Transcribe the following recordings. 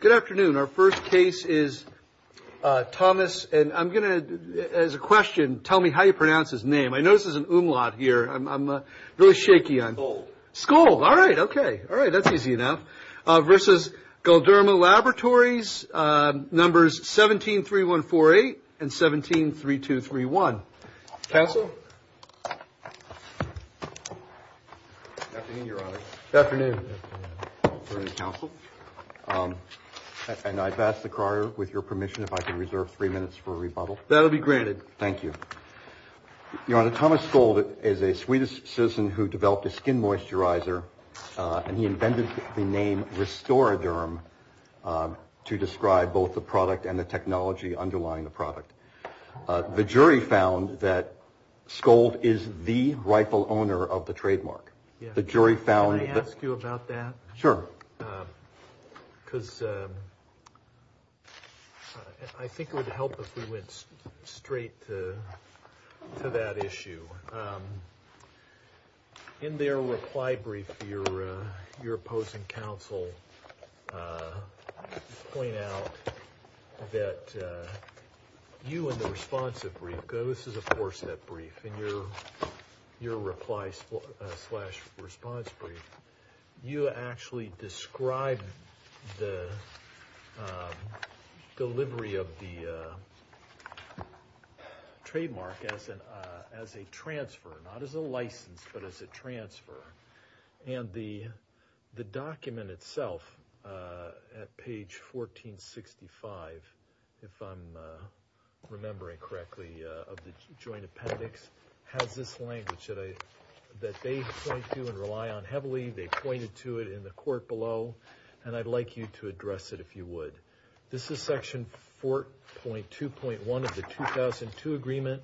Good afternoon, our first case is Thomas. And I'm going to, as a question, tell me how you pronounce his name. I notice there's an umlaut here. I'm really shaky on this. Skold. Skold, all right, okay, that's easy enough. Versus Galderma Laboratories. Numbers 173148 and 173231. Counsel. Good afternoon, Your Honor. Good afternoon. Your Honor, counsel. And I'd ask the crier, with your permission, if I could reserve three minutes for a rebuttal. That'll be granted. Thank you. Your Honor, Thomas Skold is a Swedish citizen who developed a skin moisturizer, and he invented the name Restoraderm to describe both the product and the technology underlying the product. The jury found that Skold is the rightful owner of the trademark. The jury found that. Can I ask you about that? Sure. Because I think it would help if we went straight to that issue. In their reply brief, your opposing counsel point out that you in the responsive brief, this is a four-step brief, in your reply slash response brief, you actually describe the delivery of the trademark as a transfer, not as a license, but as a transfer. And the document itself at page 1465, if I'm remembering correctly, of the joint appendix, has this language that they point to and rely on heavily. They pointed to it in the court below, and I'd like you to address it if you would. This is section 4.2.1 of the 2002 agreement.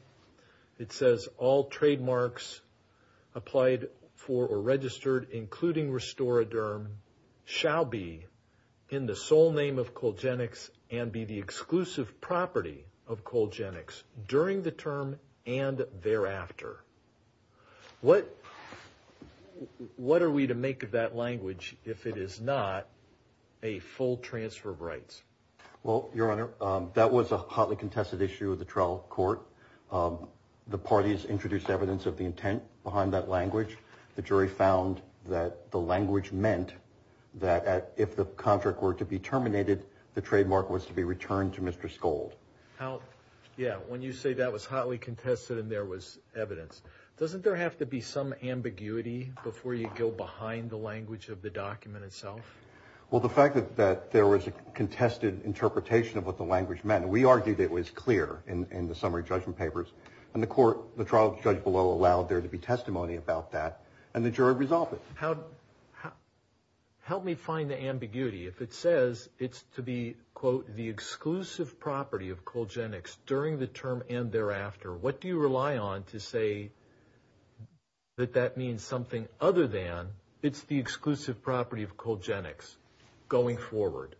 It says all trademarks applied for or registered, including Restoraderm, shall be in the sole name of Colgenyx and be the exclusive property of Colgenyx during the term and thereafter. What are we to make of that language if it is not a full transfer of rights? Well, your Honor, that was a hotly contested issue of the trial court. The parties introduced evidence of the intent behind that language. The jury found that the language meant that if the contract were to be terminated, the trademark was to be returned to Mr. Skold. Yeah, when you say that was hotly contested and there was evidence, doesn't there have to be some ambiguity before you go behind the language of the document itself? Well, the fact that there was a contested interpretation of what the language meant, we argued it was clear in the summary judgment papers, and the trial judge below allowed there to be testimony about that, and the jury resolved it. Help me find the ambiguity. If it says it's to be, quote, the exclusive property of Colgenyx during the term and thereafter, what do you rely on to say that that means something other than it's the exclusive property of Colgenyx going forward?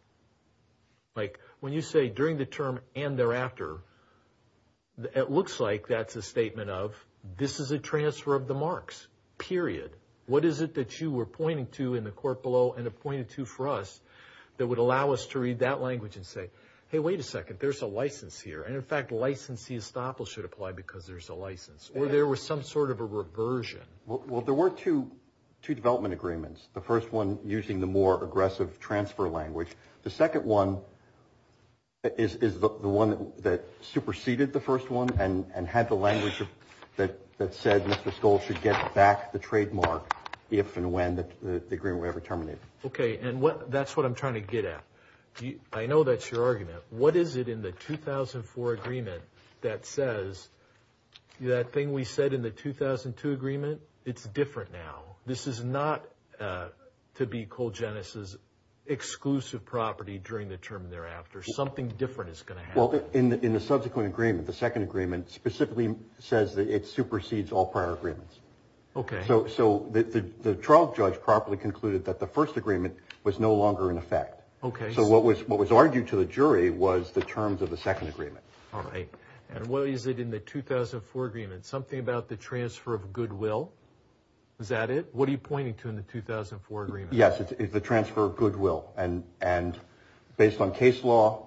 Like when you say during the term and thereafter, it looks like that's a statement of this is a transfer of the marks, period. What is it that you were pointing to in the court below and appointed to for us that would allow us to read that language and say, hey, wait a second, there's a license here. And, in fact, licensee estoppel should apply because there's a license. Or there was some sort of a reversion. Well, there were two development agreements. The first one using the more aggressive transfer language. The second one is the one that superseded the first one and had the language that said Mr. Skoll should get back the trademark if and when the agreement were ever terminated. Okay, and that's what I'm trying to get at. I know that's your argument. What is it in the 2004 agreement that says that thing we said in the 2002 agreement? It's different now. This is not to be Colgenyx's exclusive property during the term and thereafter. Something different is going to happen. Well, in the subsequent agreement, the second agreement, specifically says that it supersedes all prior agreements. Okay. So the trial judge properly concluded that the first agreement was no longer in effect. Okay. So what was argued to the jury was the terms of the second agreement. All right. And what is it in the 2004 agreement? Something about the transfer of goodwill. Is that it? What are you pointing to in the 2004 agreement? Yes, it's the transfer of goodwill. And based on case law,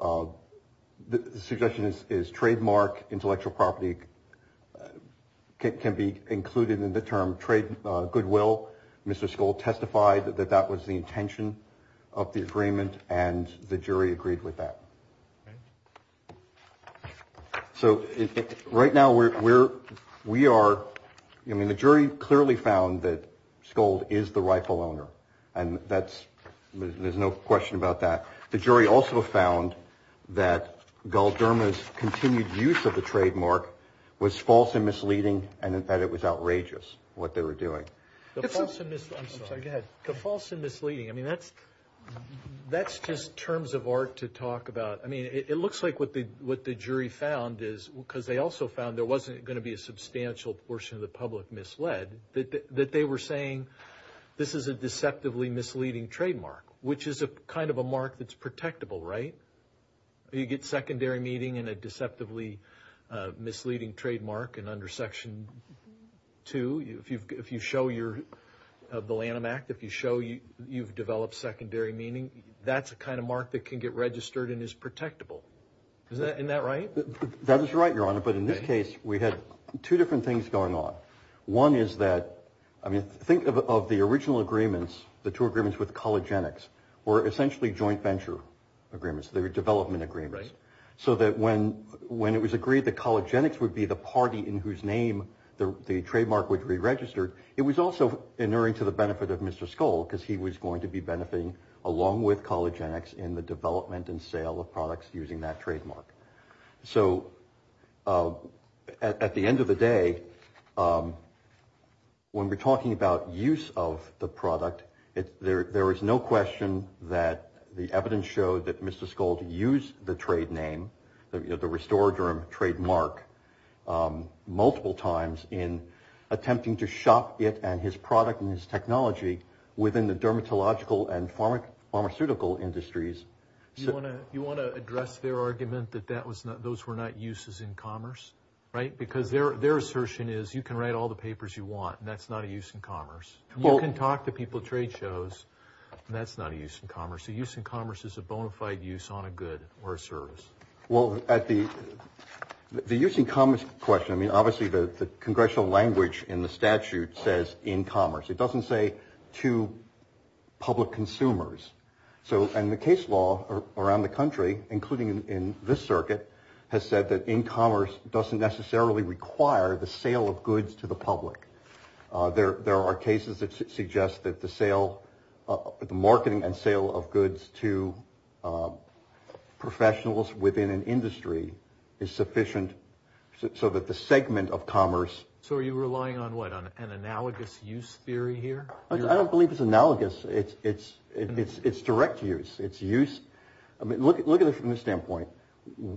the suggestion is trademark intellectual property can be included in the term goodwill. Mr. Skold testified that that was the intention of the agreement, and the jury agreed with that. Okay. So right now, we are – I mean, the jury clearly found that Skold is the rifle owner, and that's – there's no question about that. The jury also found that Galderma's continued use of the trademark was false and misleading and that it was outrageous what they were doing. The false and – I'm sorry. Go ahead. The false and misleading. I mean, that's just terms of art to talk about. I mean, it looks like what the jury found is – because they also found there wasn't going to be a substantial portion of the public misled – that they were saying this is a deceptively misleading trademark, which is a kind of a mark that's protectable, right? You get secondary meaning in a deceptively misleading trademark, and under Section 2, if you show your – the Lanham Act, if you show you've developed secondary meaning, that's a kind of mark that can get registered and is protectable. Isn't that right? That is right, Your Honor, but in this case, we had two different things going on. One is that – I mean, think of the original agreements, the two agreements with Colligenics, were essentially joint venture agreements. They were development agreements. Right. So that when it was agreed that Colligenics would be the party in whose name the trademark would be registered, it was also inuring to the benefit of Mr. Skoll because he was going to be benefiting along with Colligenics in the development and sale of products using that trademark. So at the end of the day, when we're talking about use of the product, there is no question that the evidence showed that Mr. Skoll used the trade name, the Restoraderm trademark, multiple times in attempting to shop it and his product and his technology within the dermatological and pharmaceutical industries. You want to address their argument that those were not uses in commerce, right? Because their assertion is you can write all the papers you want, and that's not a use in commerce. You can talk to people at trade shows, and that's not a use in commerce. A use in commerce is a bona fide use on a good or a service. Well, the use in commerce question, I mean, obviously the congressional language in the statute says in commerce. It doesn't say to public consumers. So and the case law around the country, including in this circuit, has said that in commerce doesn't necessarily require the sale of goods to the public. There are cases that suggest that the sale of the marketing and sale of goods to professionals within an industry is sufficient. So that the segment of commerce. So are you relying on what an analogous use theory here? I don't believe it's analogous. It's it's it's it's direct use. It's use. I mean, look, look at it from this standpoint.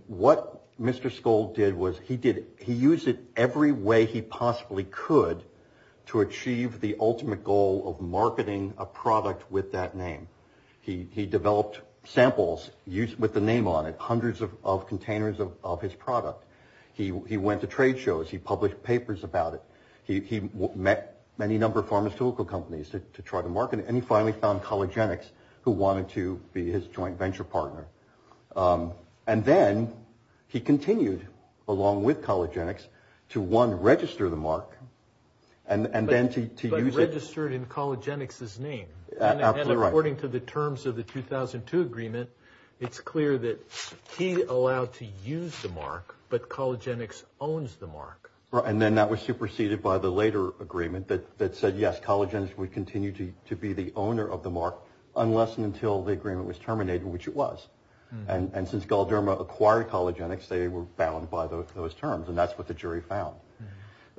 What Mr. Skoll did was he did. He used it every way he possibly could to achieve the ultimate goal of marketing a product with that name. He developed samples used with the name on it. Hundreds of containers of his product. He went to trade shows. He published papers about it. He met many number of pharmaceutical companies to try to market. And he finally found Collagen X who wanted to be his joint venture partner. And then he continued along with Collagen X to one register the mark. And then to be registered in Collagen X's name. And according to the terms of the 2002 agreement, it's clear that he allowed to use the mark. But Collagen X owns the mark. And then that was superseded by the later agreement that said, yes, Collagen X would continue to be the owner of the mark unless and until the agreement was terminated, which it was. And since Galdermo acquired Collagen X, they were bound by those terms. And that's what the jury found.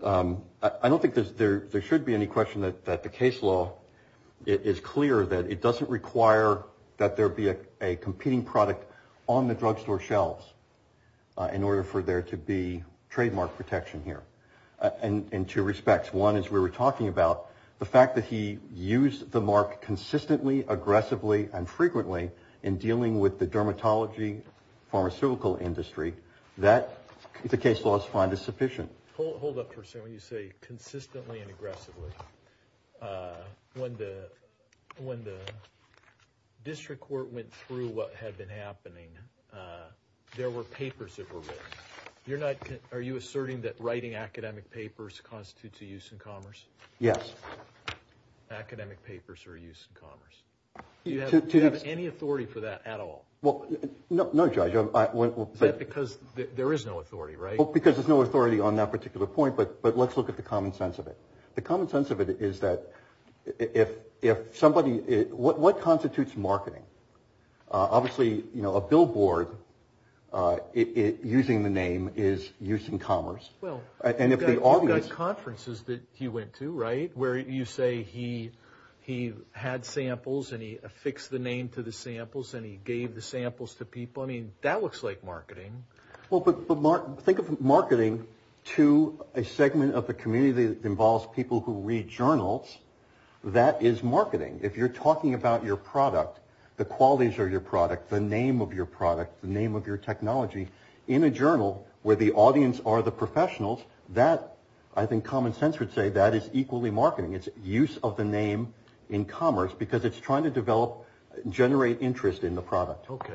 I don't think there's there. There should be any question that the case law is clear that it doesn't require that there be a competing product on the drugstore shelves. In order for there to be trademark protection here and in two respects. One is we were talking about the fact that he used the mark consistently, aggressively and frequently in dealing with the dermatology, pharmaceutical industry that the case laws find is sufficient. Hold up for a second. You say consistently and aggressively. When the when the district court went through what had been happening, there were papers that were written. You're not. Are you asserting that writing academic papers constitutes a use in commerce? Yes. Academic papers are used in commerce. Do you have any authority for that at all? Well, no, no. Because there is no authority, right? Because there's no authority on that particular point. But but let's look at the common sense of it. The common sense of it is that if if somebody what constitutes marketing, obviously, you know, a billboard using the name is used in commerce. Well, and if the audience conferences that he went to right where you say he he had samples and he affixed the name to the samples and he gave the samples to people. I mean, that looks like marketing. Well, but think of marketing to a segment of the community that involves people who read journals. That is marketing. If you're talking about your product, the qualities are your product, the name of your product, the name of your technology in a journal where the audience are the professionals that I think common sense would say that is equally marketing. It's use of the name in commerce because it's trying to develop generate interest in the product. OK,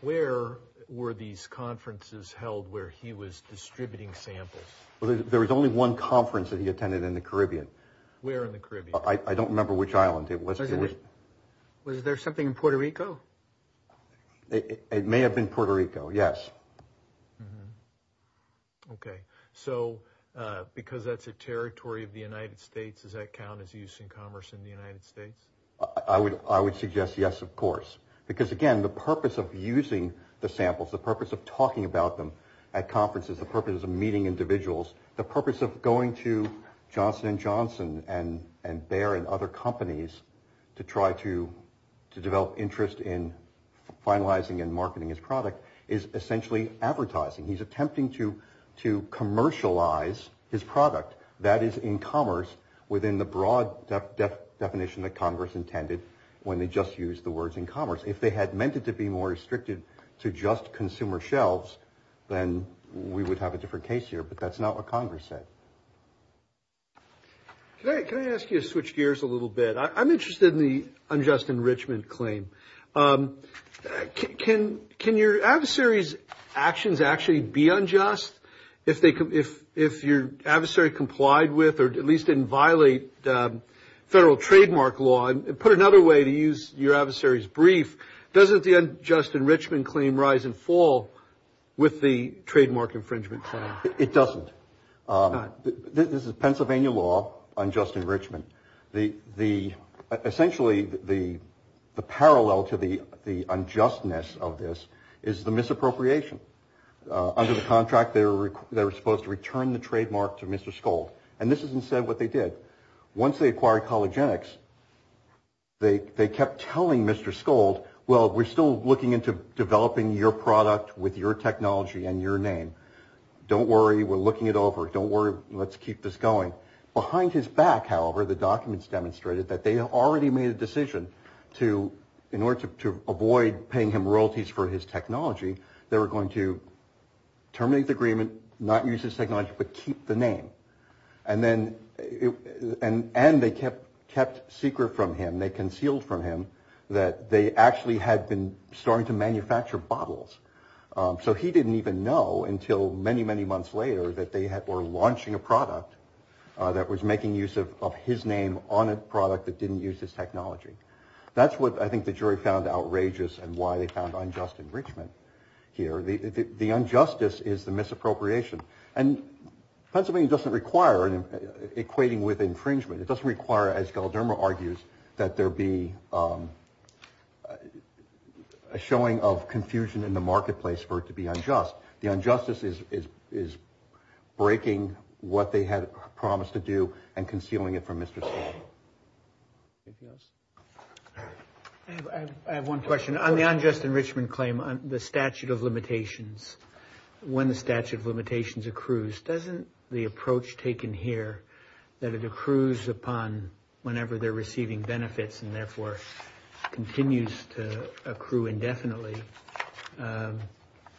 where were these conferences held where he was distributing samples? Well, there was only one conference that he attended in the Caribbean. Where in the Caribbean? I don't remember which island it was. Was there something in Puerto Rico? It may have been Puerto Rico. Yes. OK, so because that's a territory of the United States, does that count as use in commerce in the United States? I would I would suggest yes, of course. Because, again, the purpose of using the samples, the purpose of talking about them at conferences, the purpose of meeting individuals, the purpose of going to Johnson and Johnson and and Bayer and other companies to try to to develop interest in finalizing and marketing his product is essentially advertising. He's attempting to to commercialize his product that is in commerce within the broad definition that Congress intended when they just use the words in commerce. If they had meant it to be more restricted to just consumer shelves, then we would have a different case here. But that's not what Congress said. Can I ask you to switch gears a little bit? I'm interested in the unjust enrichment claim. Can can your adversaries actions actually be unjust if they if if your adversary complied with or at least didn't violate federal trademark law and put another way to use your adversaries brief? Doesn't the unjust enrichment claim rise and fall with the trademark infringement? It doesn't. This is Pennsylvania law on just enrichment. The the essentially the the parallel to the the unjustness of this is the misappropriation under the contract. They were they were supposed to return the trademark to Mr. Schulte. And this is instead what they did. Once they acquired Collagen X, they kept telling Mr. Schulte, well, we're still looking into developing your product with your technology and your name. Don't worry. We're looking it over. Don't worry. Let's keep this going. Behind his back, however, the documents demonstrated that they already made a decision to in order to avoid paying him royalties for his technology. They were going to terminate the agreement, not use this technology, but keep the name. And then it and and they kept kept secret from him. They concealed from him that they actually had been starting to manufacture bottles. So he didn't even know until many, many months later that they were launching a product that was making use of his name on a product that didn't use his technology. That's what I think the jury found outrageous and why they found unjust enrichment here. The injustice is the misappropriation. And Pennsylvania doesn't require an equating with infringement. It doesn't require, as Galdermo argues, that there be a showing of confusion in the marketplace for it to be unjust. The injustice is is breaking what they had promised to do and concealing it from Mr. Yes, I have one question on the unjust enrichment claim on the statute of limitations. When the statute of limitations accrues, doesn't the approach taken here that it accrues upon whenever they're receiving benefits and therefore continues to accrue indefinitely?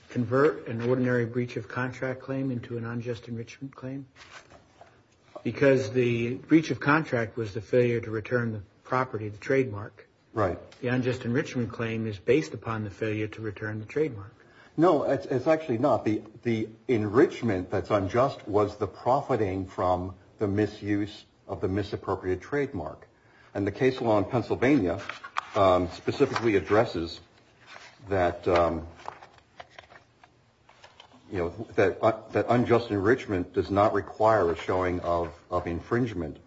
Convert an ordinary breach of contract claim into an unjust enrichment claim because the breach of contract was the failure to return the property trademark. Right. The unjust enrichment claim is based upon the failure to return the trademark. No, it's actually not. The the enrichment that's unjust was the profiting from the misuse of the misappropriated trademark. And the case law in Pennsylvania specifically addresses that. You know that that unjust enrichment does not require a showing of of infringement.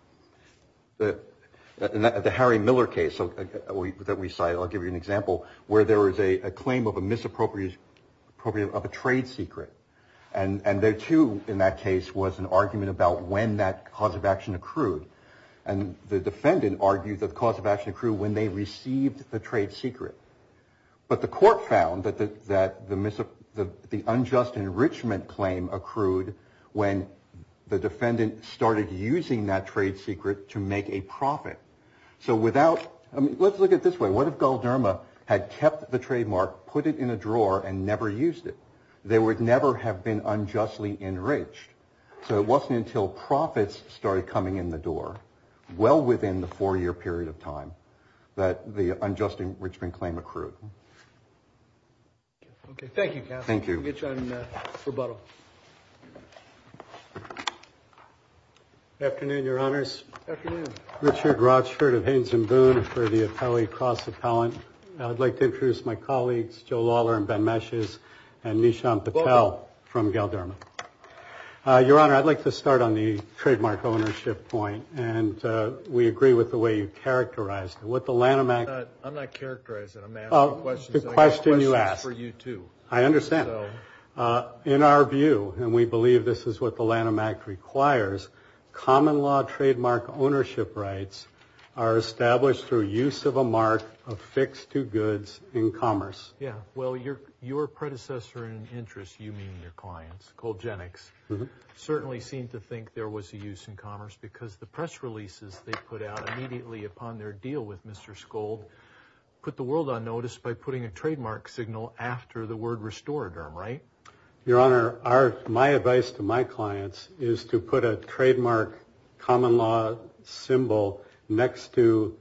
The Harry Miller case that we cite, I'll give you an example where there is a claim of a misappropriation of a trade secret. And there, too, in that case was an argument about when that cause of action accrued. And the defendant argued that the cause of action accrued when they received the trade secret. But the court found that that the the unjust enrichment claim accrued when the defendant started using that trade secret to make a profit. So without I mean, let's look at this way. What if Galderma had kept the trademark, put it in a drawer and never used it? They would never have been unjustly enriched. So it wasn't until profits started coming in the door well within the four year period of time that the unjust enrichment claim accrued. OK, thank you. Thank you. I'm going to get you on rebuttal. Afternoon, Your Honors. Richard Rochford of Haines and Boone for the Apelli Cross Appellant. I'd like to introduce my colleagues, Joe Lawler and Ben Meshes and Nishant Patel from Galderma. Your Honor, I'd like to start on the trademark ownership point. And we agree with the way you characterized what the Lanham Act. I'm not I'm not characterizing a man. Oh, good question. You ask for you, too. I understand. In our view, and we believe this is what the Lanham Act requires. Common law trademark ownership rights are established through use of a mark of fixed to goods in commerce. Yeah. Well, you're your predecessor in interest. You mean your clients called Genix certainly seem to think there was a use in commerce because the press releases they put out immediately upon their deal with Mr. Gold put the world on notice by putting a trademark signal after the word restored. Right. Your Honor, are my advice to my clients is to put a trademark common law symbol next to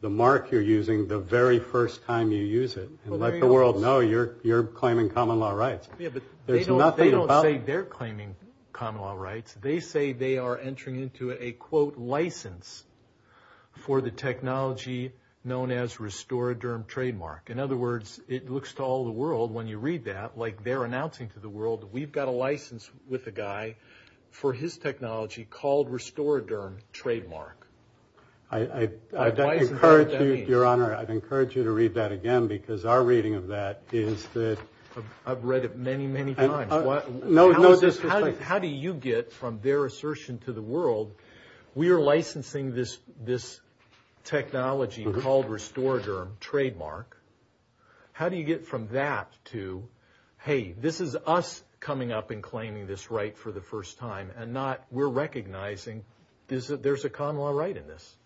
the mark you're using the very first time you use it and let the world know you're you're claiming common law rights. Yeah, but they don't they don't say they're claiming common law rights. They say they are entering into a, quote, license for the technology known as restore a term trademark. In other words, it looks to all the world when you read that, like they're announcing to the world that we've got a license with a guy for his technology called restore a term trademark. I encourage you, Your Honor. I'd encourage you to read that again, because our reading of that is that I've read it. Many, many times. No, no. How do you get from their assertion to the world? We are licensing this this technology called restore a term trademark. How do you get from that to, hey, this is us coming up and claiming this right for the first time and not we're recognizing this, that there's a common law right in this.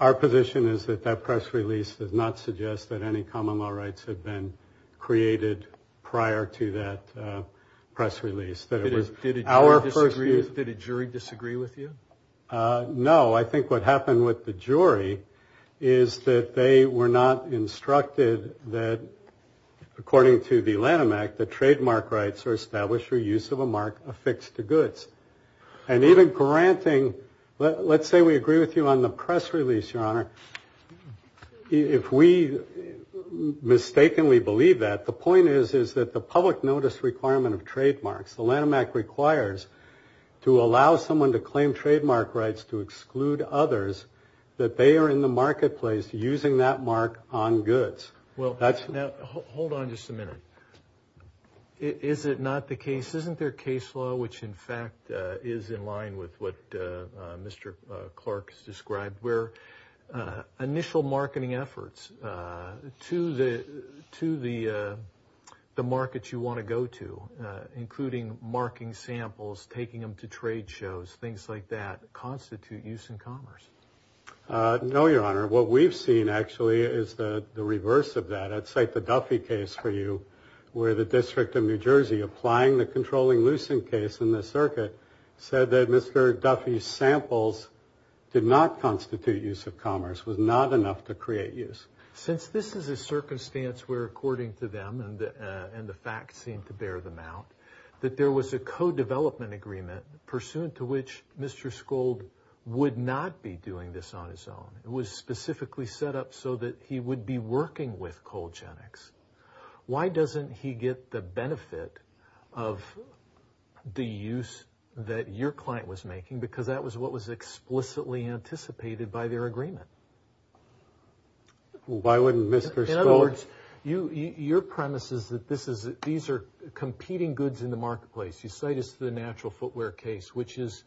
Our position is that that press release does not suggest that any common law rights have been created prior to that press release. That is, did our first year that a jury disagree with you? No, I think what happened with the jury is that they were not instructed that, according to the Lanham Act, the trademark rights are established for use of a mark affixed to goods and even granting. Let's say we agree with you on the press release, Your Honor. If we mistakenly believe that the point is, is that the public notice requirement of trademarks, the Lanham Act requires to allow someone to claim trademark rights to exclude others that they are in the marketplace using that mark on goods. Now, hold on just a minute. Is it not the case, isn't there case law, which, in fact, is in line with what Mr. Clark has described, where initial marketing efforts to the market you want to go to, including marking samples, taking them to trade shows, things like that, constitute use in commerce? No, Your Honor. What we've seen, actually, is the reverse of that. I'd cite the Duffy case for you, where the District of New Jersey, applying the controlling Lucent case in the circuit, said that Mr. Duffy's samples did not constitute use of commerce, was not enough to create use. Since this is a circumstance where, according to them, and the facts seem to bear them out, that there was a co-development agreement pursuant to which Mr. Scold would not be doing this on his own. It was specifically set up so that he would be working with Colgenex. Why doesn't he get the benefit of the use that your client was making because that was what was explicitly anticipated by their agreement? Why wouldn't Mr. Scold? In other words, your premise is that these are competing goods in the marketplace. You cite us to the natural footwear case, which is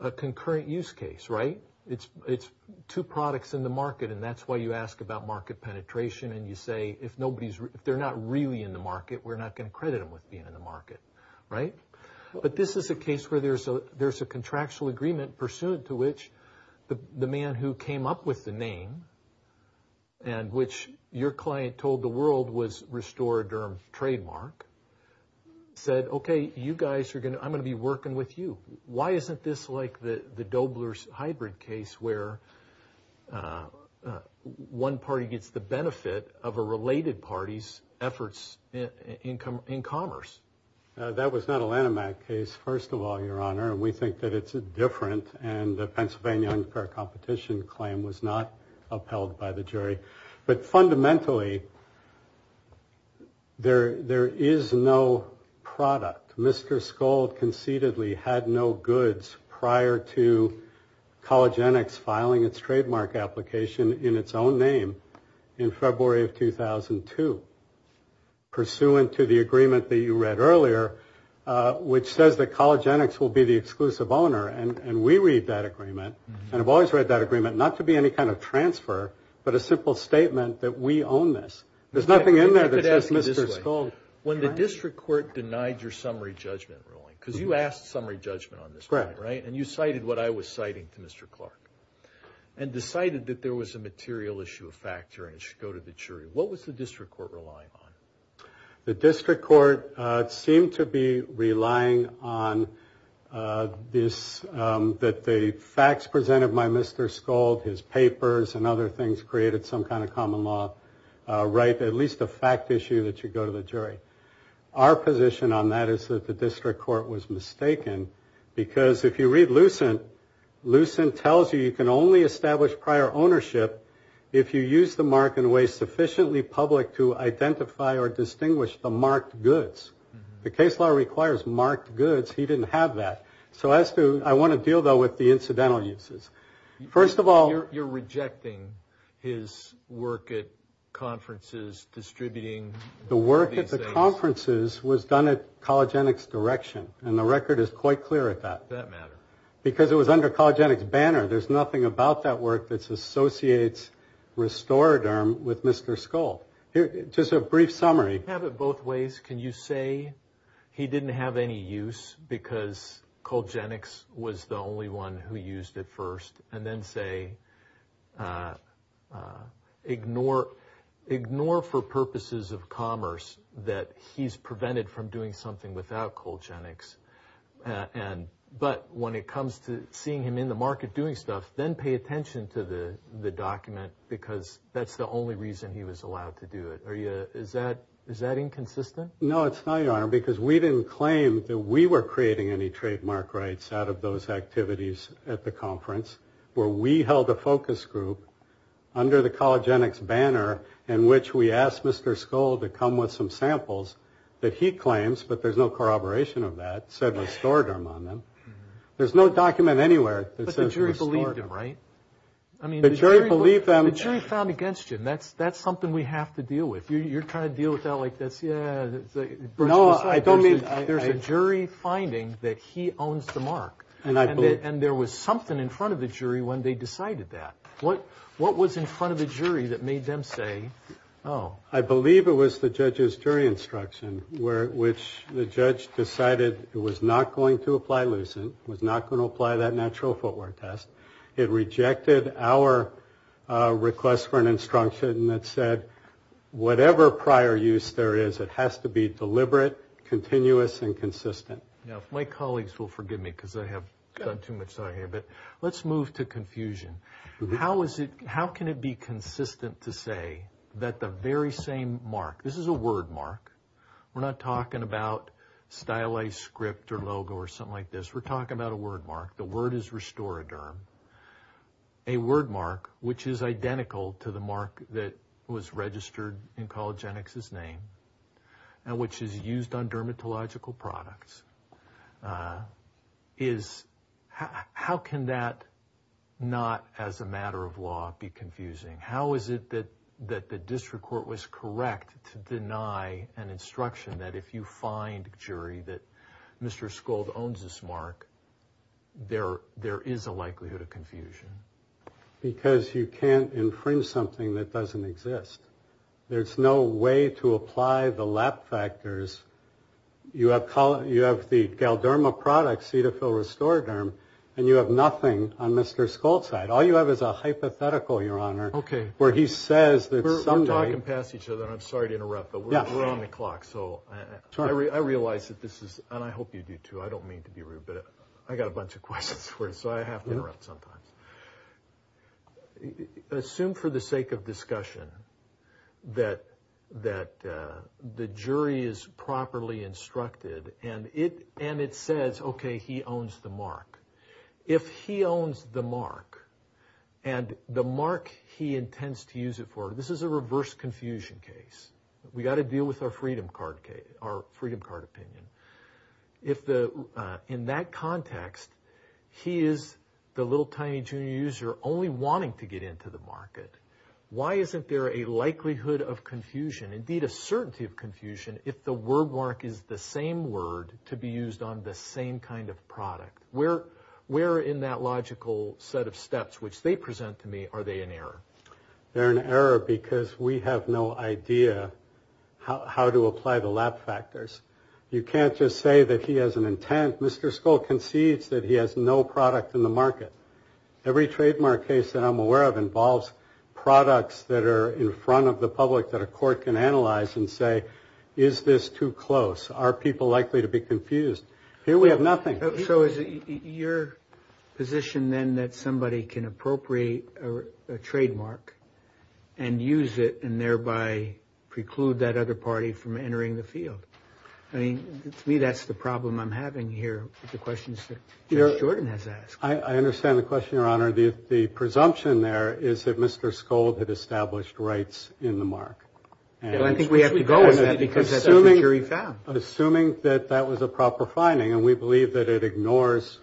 a concurrent use case, right? It's two products in the market, and that's why you ask about market penetration, and you say, if they're not really in the market, we're not going to credit them with being in the market, right? But this is a case where there's a contractual agreement pursuant to which the man who came up with the name, and which your client told the world was Restoraderm Trademark, said, okay, you guys are going to, I'm going to be working with you. Why isn't this like the Dobler's hybrid case where one party gets the benefit of a related party's efforts in commerce? That was not a Lanham Act case, first of all, Your Honor, and we think that it's different, and the Pennsylvania unfair competition claim was not upheld by the jury. But fundamentally, there is no product. Mr. Skuld concededly had no goods prior to Collagenix filing its trademark application in its own name in February of 2002, pursuant to the agreement that you read earlier, which says that Collagenix will be the exclusive owner, and we read that agreement, and have always read that agreement, not to be any kind of transfer, but a simple statement that we own this. There's nothing in there that says Mr. Skuld. When the district court denied your summary judgment ruling, because you asked summary judgment on this one, right, and you cited what I was citing to Mr. Clark, and decided that there was a material issue of fact here and it should go to the jury, what was the district court relying on? The district court seemed to be relying on this, that the facts presented by Mr. Skuld, his papers and other things, created some kind of common law, right, at least a fact issue that should go to the jury. Our position on that is that the district court was mistaken, because if you read Lucent, Lucent tells you you can only establish prior ownership if you use the mark in a way sufficiently public to identify or distinguish the marked goods. The case law requires marked goods. He didn't have that. So as to, I want to deal, though, with the incidental uses. First of all... And the record is quite clear at that. Does that matter? Because it was under Cologenic's banner. There's nothing about that work that associates Restoraderm with Mr. Skuld. Just a brief summary. Can you have it both ways? Can you say he didn't have any use because Cologenic's was the only one who used it first? And then say, ignore for purposes of commerce that he's prevented from doing something without Cologenic's. But when it comes to seeing him in the market doing stuff, then pay attention to the document, because that's the only reason he was allowed to do it. Is that inconsistent? No, it's not, Your Honor, because we didn't claim that we were creating any trademark rights out of those activities at the conference, where we held a focus group under the Cologenic's banner in which we asked Mr. Skuld to come with some samples that he claims, but there's no corroboration of that, said Restoraderm on them. There's no document anywhere that says Restoraderm. But the jury believed him, right? The jury believed them. The jury found against him. That's something we have to deal with. You're trying to deal with that like that's, yeah. No, I don't mean. There's a jury finding that he owns the mark. And there was something in front of the jury when they decided that. What was in front of the jury that made them say, oh? I believe it was the judge's jury instruction, which the judge decided it was not going to apply Lucent, was not going to apply that natural footwear test. It rejected our request for an instruction that said whatever prior use there is, it has to be deliberate, continuous, and consistent. Now, if my colleagues will forgive me because I have done too much here, but let's move to confusion. How can it be consistent to say that the very same mark, this is a word mark. We're not talking about stylized script or logo or something like this. We're talking about a word mark. The word is Restoraderm. A word mark which is identical to the mark that was registered in Collagenix's name and which is used on dermatological products is, how can that not as a matter of law be confusing? How is it that the district court was correct to deny an instruction that if you find a jury that Mr. there is a likelihood of confusion? Because you can't infringe something that doesn't exist. There's no way to apply the lab factors. You have the Galderma product, Cetaphil Restoraderm, and you have nothing on Mr. Schultz's side. All you have is a hypothetical, Your Honor. Okay. Where he says that someday. We're talking past each other, and I'm sorry to interrupt, but we're on the clock. So I realize that this is, and I hope you do too. I don't mean to be rude, but I got a bunch of questions for you, so I have to interrupt sometimes. Assume for the sake of discussion that the jury is properly instructed and it says, okay, he owns the mark. If he owns the mark and the mark he intends to use it for, this is a reverse confusion case. We got to deal with our Freedom Card case, our Freedom Card opinion. In that context, he is the little tiny junior user only wanting to get into the market. Why isn't there a likelihood of confusion, indeed a certainty of confusion, if the word mark is the same word to be used on the same kind of product? Where in that logical set of steps, which they present to me, are they an error? They're an error because we have no idea how to apply the lab factors. You can't just say that he has an intent. Mr. Skoll concedes that he has no product in the market. Every trademark case that I'm aware of involves products that are in front of the public that a court can analyze and say, is this too close? Are people likely to be confused? Here we have nothing. So is it your position, then, that somebody can appropriate a trademark and use it and thereby preclude that other party from entering the field? I mean, to me, that's the problem I'm having here with the questions that Judge Jordan has asked. I understand the question, Your Honor. The presumption there is that Mr. Skoll had established rights in the mark. Well, I think we have to go with that because that's what the jury found. Assuming that that was a proper finding, and we believe that it ignores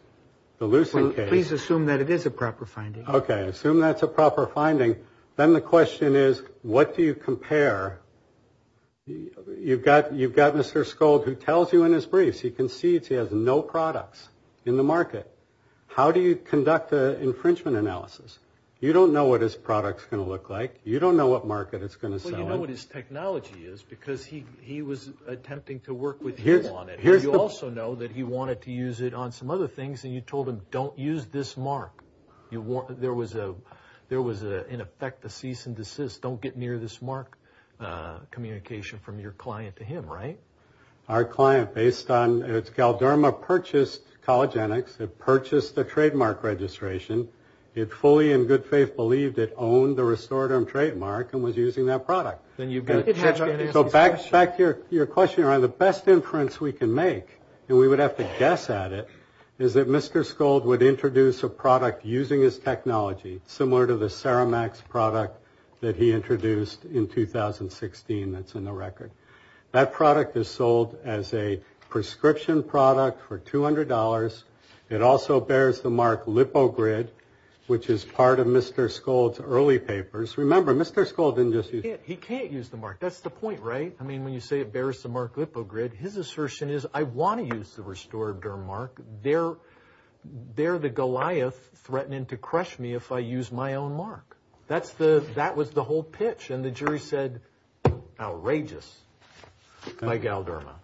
the Lucent case. Please assume that it is a proper finding. Okay, assume that's a proper finding. Then the question is, what do you compare? You've got Mr. Skoll who tells you in his briefs he concedes he has no products in the market. How do you conduct an infringement analysis? You don't know what his product is going to look like. You don't know what market it's going to sell in. You don't know what his technology is because he was attempting to work with you on it. You also know that he wanted to use it on some other things, and you told him, don't use this mark. There was, in effect, a cease and desist. Don't get near this mark communication from your client to him, right? Our client, based on Calderma, purchased Collagenics. It purchased the trademark registration. It fully in good faith believed it owned the restorative trademark and was using that product. So back to your question around the best inference we can make, and we would have to guess at it, is that Mr. Skoll would introduce a product using his technology, similar to the Ceramax product that he introduced in 2016 that's in the record. That product is sold as a prescription product for $200. It also bears the mark LipoGrid, which is part of Mr. Skoll's early papers. Remember, Mr. Skoll didn't just use it. He can't use the mark. That's the point, right? I mean, when you say it bears the mark LipoGrid, his assertion is, I want to use the restorative mark. They're the Goliath threatening to crush me if I use my own mark. That was the whole pitch, and the jury said, outrageous, by Calderma.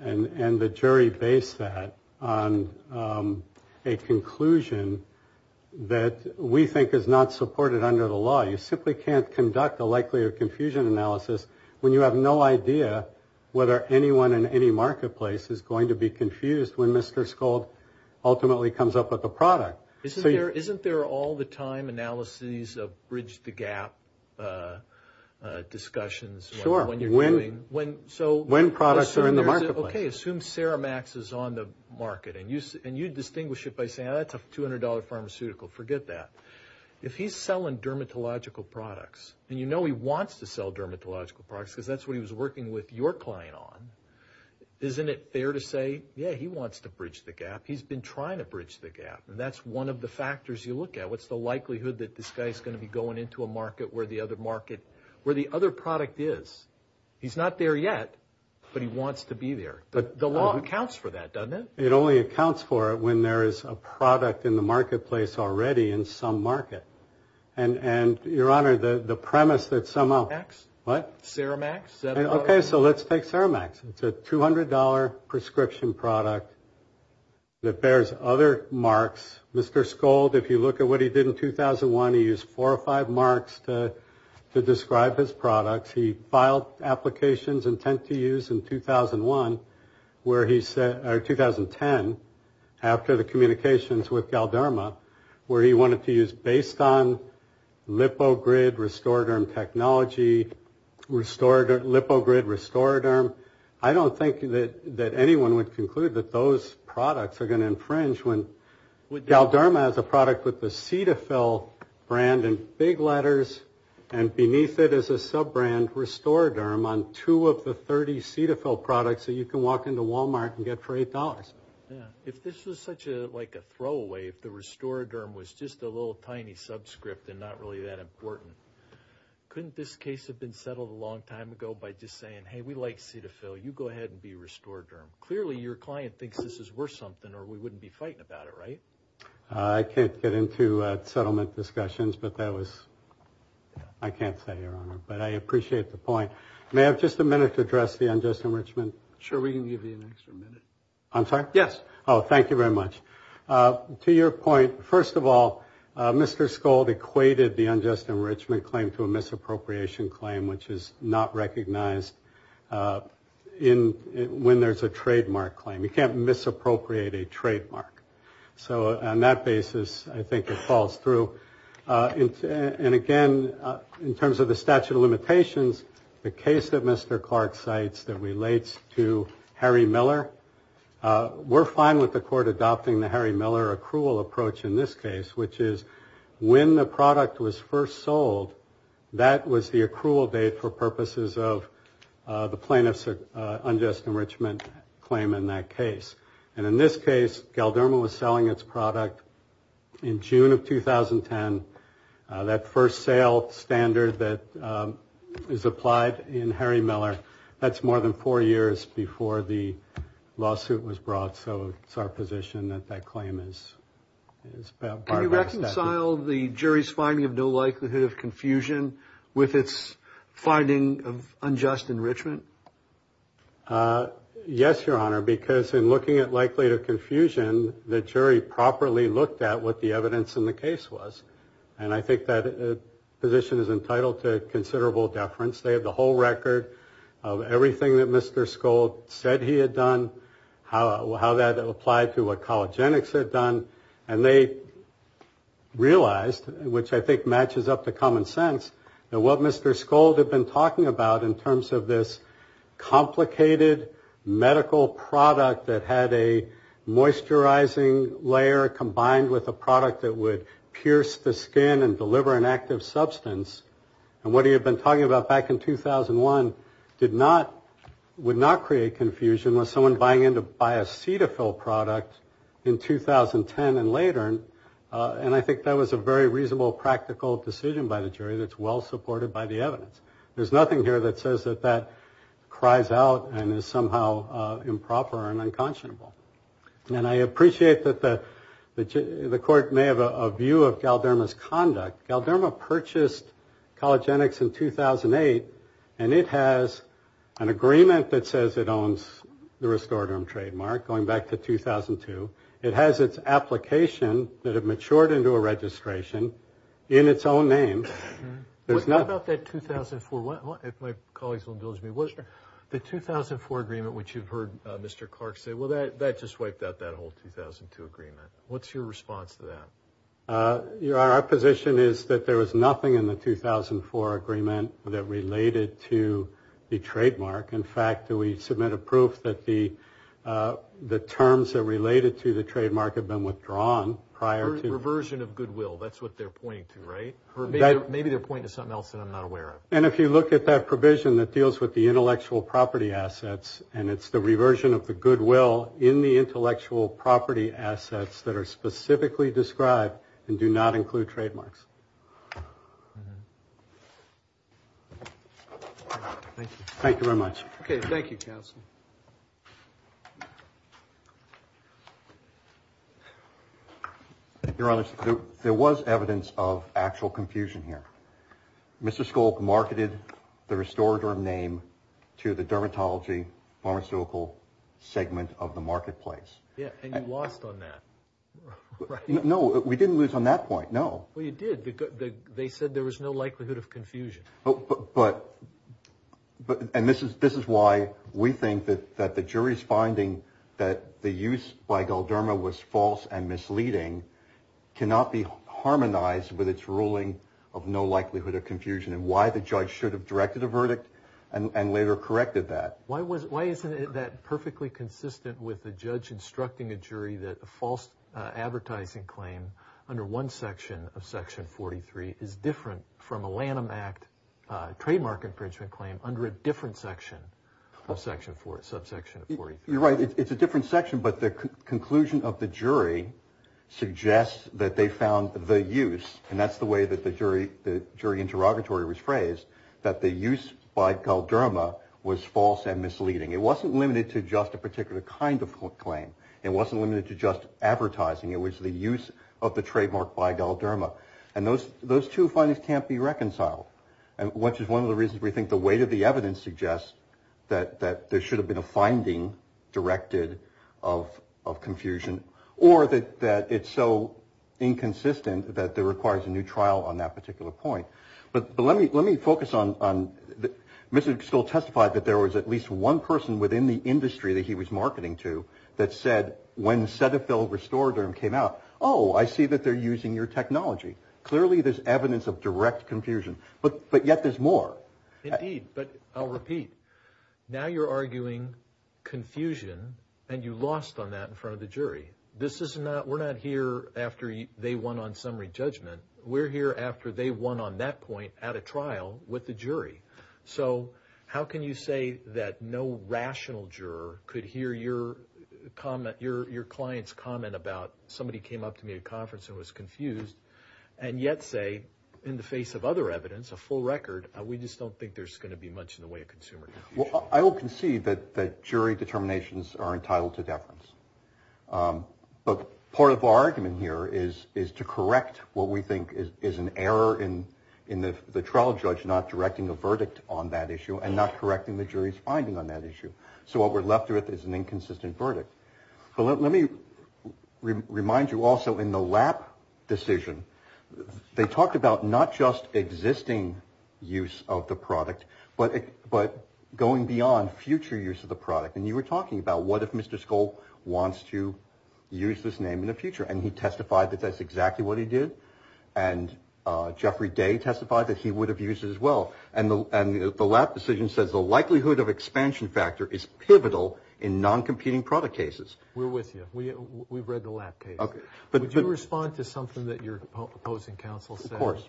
And the jury based that on a conclusion that we think is not supported under the law. You simply can't conduct a likelihood confusion analysis when you have no idea whether anyone in any marketplace is going to be confused when Mr. Skoll ultimately comes up with a product. Isn't there all the time analyses of bridge the gap discussions when you're doing? Sure. When products are in the marketplace. Okay. Assume Ceramax is on the market, and you distinguish it by saying, oh, that's a $200 pharmaceutical. Forget that. If he's selling dermatological products, and you know he wants to sell dermatological products because that's what he was working with your client on, isn't it fair to say, yeah, he wants to bridge the gap? He's been trying to bridge the gap, and that's one of the factors you look at. What's the likelihood that this guy is going to be going into a market where the other product is? He's not there yet, but he wants to be there. The law accounts for that, doesn't it? It only accounts for it when there is a product in the marketplace already in some market. And, Your Honor, the premise that somehow. Ceramax? What? Ceramax? Okay. So let's take Ceramax. It's a $200 prescription product that bears other marks. Mr. Skoll, if you look at what he did in 2001, he used four or five marks to describe his products. He filed applications intent to use in 2001, where he said, or 2010, after the communications with Galderma, where he wanted to use based on LipoGrid Restoraderm technology, LipoGrid Restoraderm. I don't think that anyone would conclude that those products are going to infringe when, Galderma is a product with the Cetaphil brand in big letters, and beneath it is a sub-brand, Restoraderm, on two of the 30 Cetaphil products that you can walk into Walmart and get for $8. If this was such a throwaway, if the Restoraderm was just a little tiny subscript and not really that important, couldn't this case have been settled a long time ago by just saying, hey, we like Cetaphil. You go ahead and be Restoraderm. Clearly, your client thinks this is worth something or we wouldn't be fighting about it, right? I can't get into settlement discussions, but that was, I can't say, Your Honor, but I appreciate the point. May I have just a minute to address the unjust enrichment? Sure, we can give you an extra minute. I'm sorry? Yes. Oh, thank you very much. To your point, first of all, Mr. Skoll equated the unjust enrichment claim to a misappropriation claim, which is not recognized when there's a trademark claim. You can't misappropriate a trademark. So on that basis, I think it falls through. And again, in terms of the statute of limitations, the case that Mr. Clark cites that relates to Harry Miller, we're fine with the court adopting the Harry Miller accrual approach in this case, which is when the product was first sold, that was the accrual date for purposes of the plaintiff's unjust enrichment claim in that case. And in this case, Galderma was selling its product in June of 2010. That first sale standard that is applied in Harry Miller, that's more than four years before the lawsuit was brought. So it's our position that that claim is part of our statute. Can you reconcile the jury's finding of no likelihood of confusion with its finding of unjust enrichment? Yes, Your Honor, because in looking at likelihood of confusion, the jury properly looked at what the evidence in the case was. And I think that position is entitled to considerable deference. They have the whole record of everything that Mr. Skold said he had done, how that applied to what Collagenics had done. And they realized, which I think matches up to common sense, that what Mr. Skold had been talking about in terms of this complicated medical product that had a moisturizing layer combined with a product that would pierce the skin and deliver an active substance, and what he had been talking about back in 2001 would not create confusion with someone buying in to buy a Cetaphil product in 2010 and later. And I think that was a very reasonable, practical decision by the jury that's well supported by the evidence. There's nothing here that says that that cries out and is somehow improper and unconscionable. And I appreciate that the court may have a view of Galderma's conduct. Galderma purchased Collagenics in 2008, and it has an agreement that says it owns the Restoraderm trademark going back to 2002. It has its application that it matured into a registration in its own name. What about that 2004? If my colleagues will indulge me, the 2004 agreement, which you've heard Mr. Clark say, well, that just wiped out that whole 2002 agreement. What's your response to that? Our position is that there was nothing in the 2004 agreement that related to the trademark. In fact, we submit a proof that the terms that related to the trademark had been withdrawn prior to. Reversion of goodwill. That's what they're pointing to, right? Maybe they're pointing to something else that I'm not aware of. And if you look at that provision that deals with the intellectual property assets, and it's the reversion of the goodwill in the intellectual property assets that are specifically described and do not include trademarks. Thank you very much. Thank you, counsel. Your Honor, there was evidence of actual confusion here. Mr. Skolk marketed the restorative name to the dermatology pharmaceutical segment of the marketplace. Yeah, and you lost on that, right? No, we didn't lose on that point, no. Well, you did. They said there was no likelihood of confusion. And this is why we think that the jury's finding that the use by Galderma was false and misleading cannot be harmonized with its ruling of no likelihood of confusion, and why the judge should have directed a verdict and later corrected that. Why isn't it that perfectly consistent with the judge instructing a jury that a false advertising claim under one section of Section 43 is different from a Lanham Act trademark infringement claim under a different section of Section 43? You're right, it's a different section, but the conclusion of the jury suggests that they found the use, and that's the way that the jury interrogatory was phrased, that the use by Galderma was false and misleading. It wasn't limited to just a particular kind of claim. It wasn't limited to just advertising. It was the use of the trademark by Galderma, and those two findings can't be reconciled, which is one of the reasons we think the weight of the evidence suggests that there should have been a finding directed of confusion or that it's so inconsistent that it requires a new trial on that particular point. But let me focus on – Mr. Stoll testified that there was at least one person within the industry that he was marketing to that said, when Cetaphil Restorederm came out, oh, I see that they're using your technology. Clearly, there's evidence of direct confusion, but yet there's more. Indeed, but I'll repeat. Now you're arguing confusion, and you lost on that in front of the jury. We're not here after they won on summary judgment. We're here after they won on that point at a trial with the jury. So how can you say that no rational juror could hear your client's comment about somebody came up to me at a conference and was confused, and yet say, in the face of other evidence, a full record, we just don't think there's going to be much in the way of consumer confusion? Well, I will concede that jury determinations are entitled to deference. But part of our argument here is to correct what we think is an error in the trial judge not directing a verdict on that issue and not correcting the jury's finding on that issue. So what we're left with is an inconsistent verdict. Let me remind you also in the LAP decision, they talked about not just existing use of the product, but going beyond future use of the product. And you were talking about what if Mr. Skoll wants to use this name in the future? And he testified that that's exactly what he did. And Jeffrey Day testified that he would have used it as well. And the LAP decision says the likelihood of expansion factor is pivotal in non-competing product cases. We're with you. We've read the LAP case. Would you respond to something that your opposing counsel said? Of course.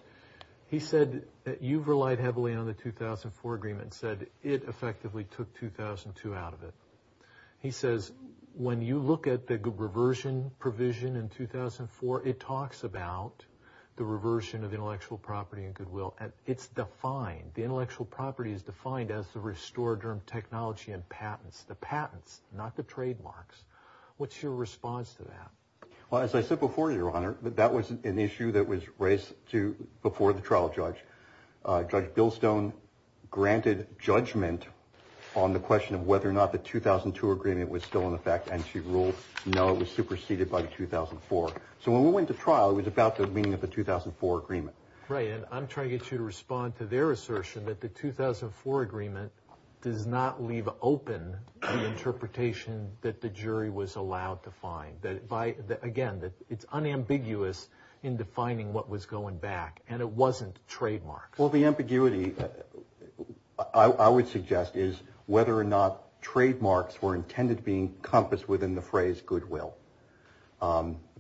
He said that you've relied heavily on the 2004 agreement and said it effectively took 2002 out of it. He says when you look at the reversion provision in 2004, it talks about the reversion of intellectual property and goodwill. It's defined. The intellectual property is defined as the restorative technology and patents. The patents, not the trademarks. What's your response to that? Well, as I said before, Your Honor, that was an issue that was raised before the trial judge. Judge Bilstone granted judgment on the question of whether or not the 2002 agreement was still in effect. And she ruled no, it was superseded by the 2004. So when we went to trial, it was about the meaning of the 2004 agreement. Right, and I'm trying to get you to respond to their assertion that the 2004 agreement does not leave open the interpretation that the jury was allowed to find. Again, it's unambiguous in defining what was going back, and it wasn't trademarks. Well, the ambiguity, I would suggest, is whether or not trademarks were intended to be encompassed within the phrase goodwill.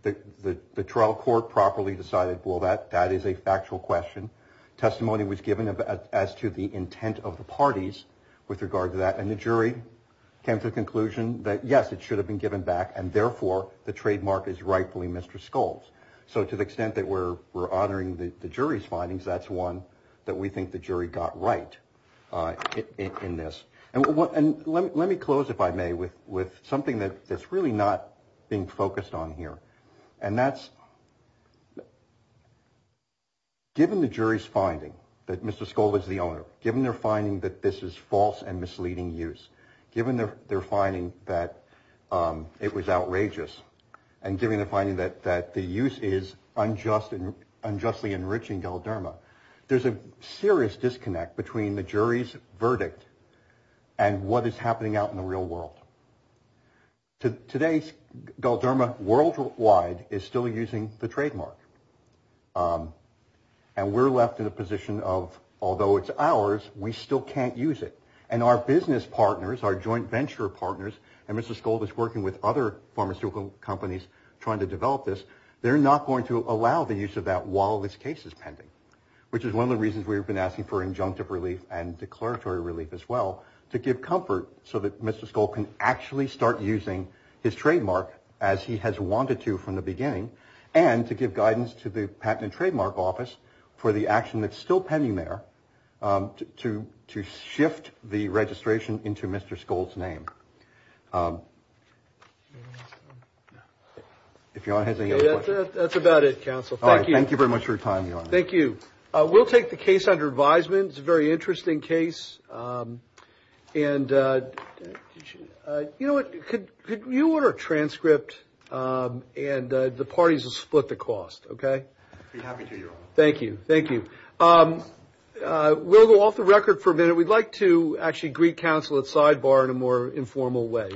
The trial court properly decided, well, that is a factual question. Testimony was given as to the intent of the parties with regard to that. And the jury came to the conclusion that, yes, it should have been given back. And therefore, the trademark is rightfully Mr. Scull's. So to the extent that we're honoring the jury's findings, that's one that we think the jury got right in this. And let me close, if I may, with with something that that's really not being focused on here. And that's. Given the jury's finding that Mr. Scull was the owner, given their finding that this is false and misleading use, given their finding that it was outrageous and giving the finding that that the use is unjust and unjustly enriching. There's a serious disconnect between the jury's verdict and what is happening out in the real world. To today's gold derma worldwide is still using the trademark. And we're left in a position of, although it's ours, we still can't use it. And our business partners are joint venture partners. And Mr. Scull is working with other pharmaceutical companies trying to develop this. They're not going to allow the use of that while this case is pending, which is one of the reasons we've been asking for injunctive relief and declaratory relief as well to give comfort so that Mr. Scull can actually start using his trademark as he has wanted to from the beginning and to give guidance to the patent and trademark office for the action that's still pending there to to shift the registration into Mr. Scull's name. If you don't have that, that's about it, counsel. Thank you. Thank you very much for your time. Thank you. We'll take the case under advisement. It's a very interesting case. And, you know, could you order a transcript? And the parties will split the cost. OK. Thank you. Thank you. We'll go off the record for a minute. We'd like to actually greet counsel at sidebar in a more informal way.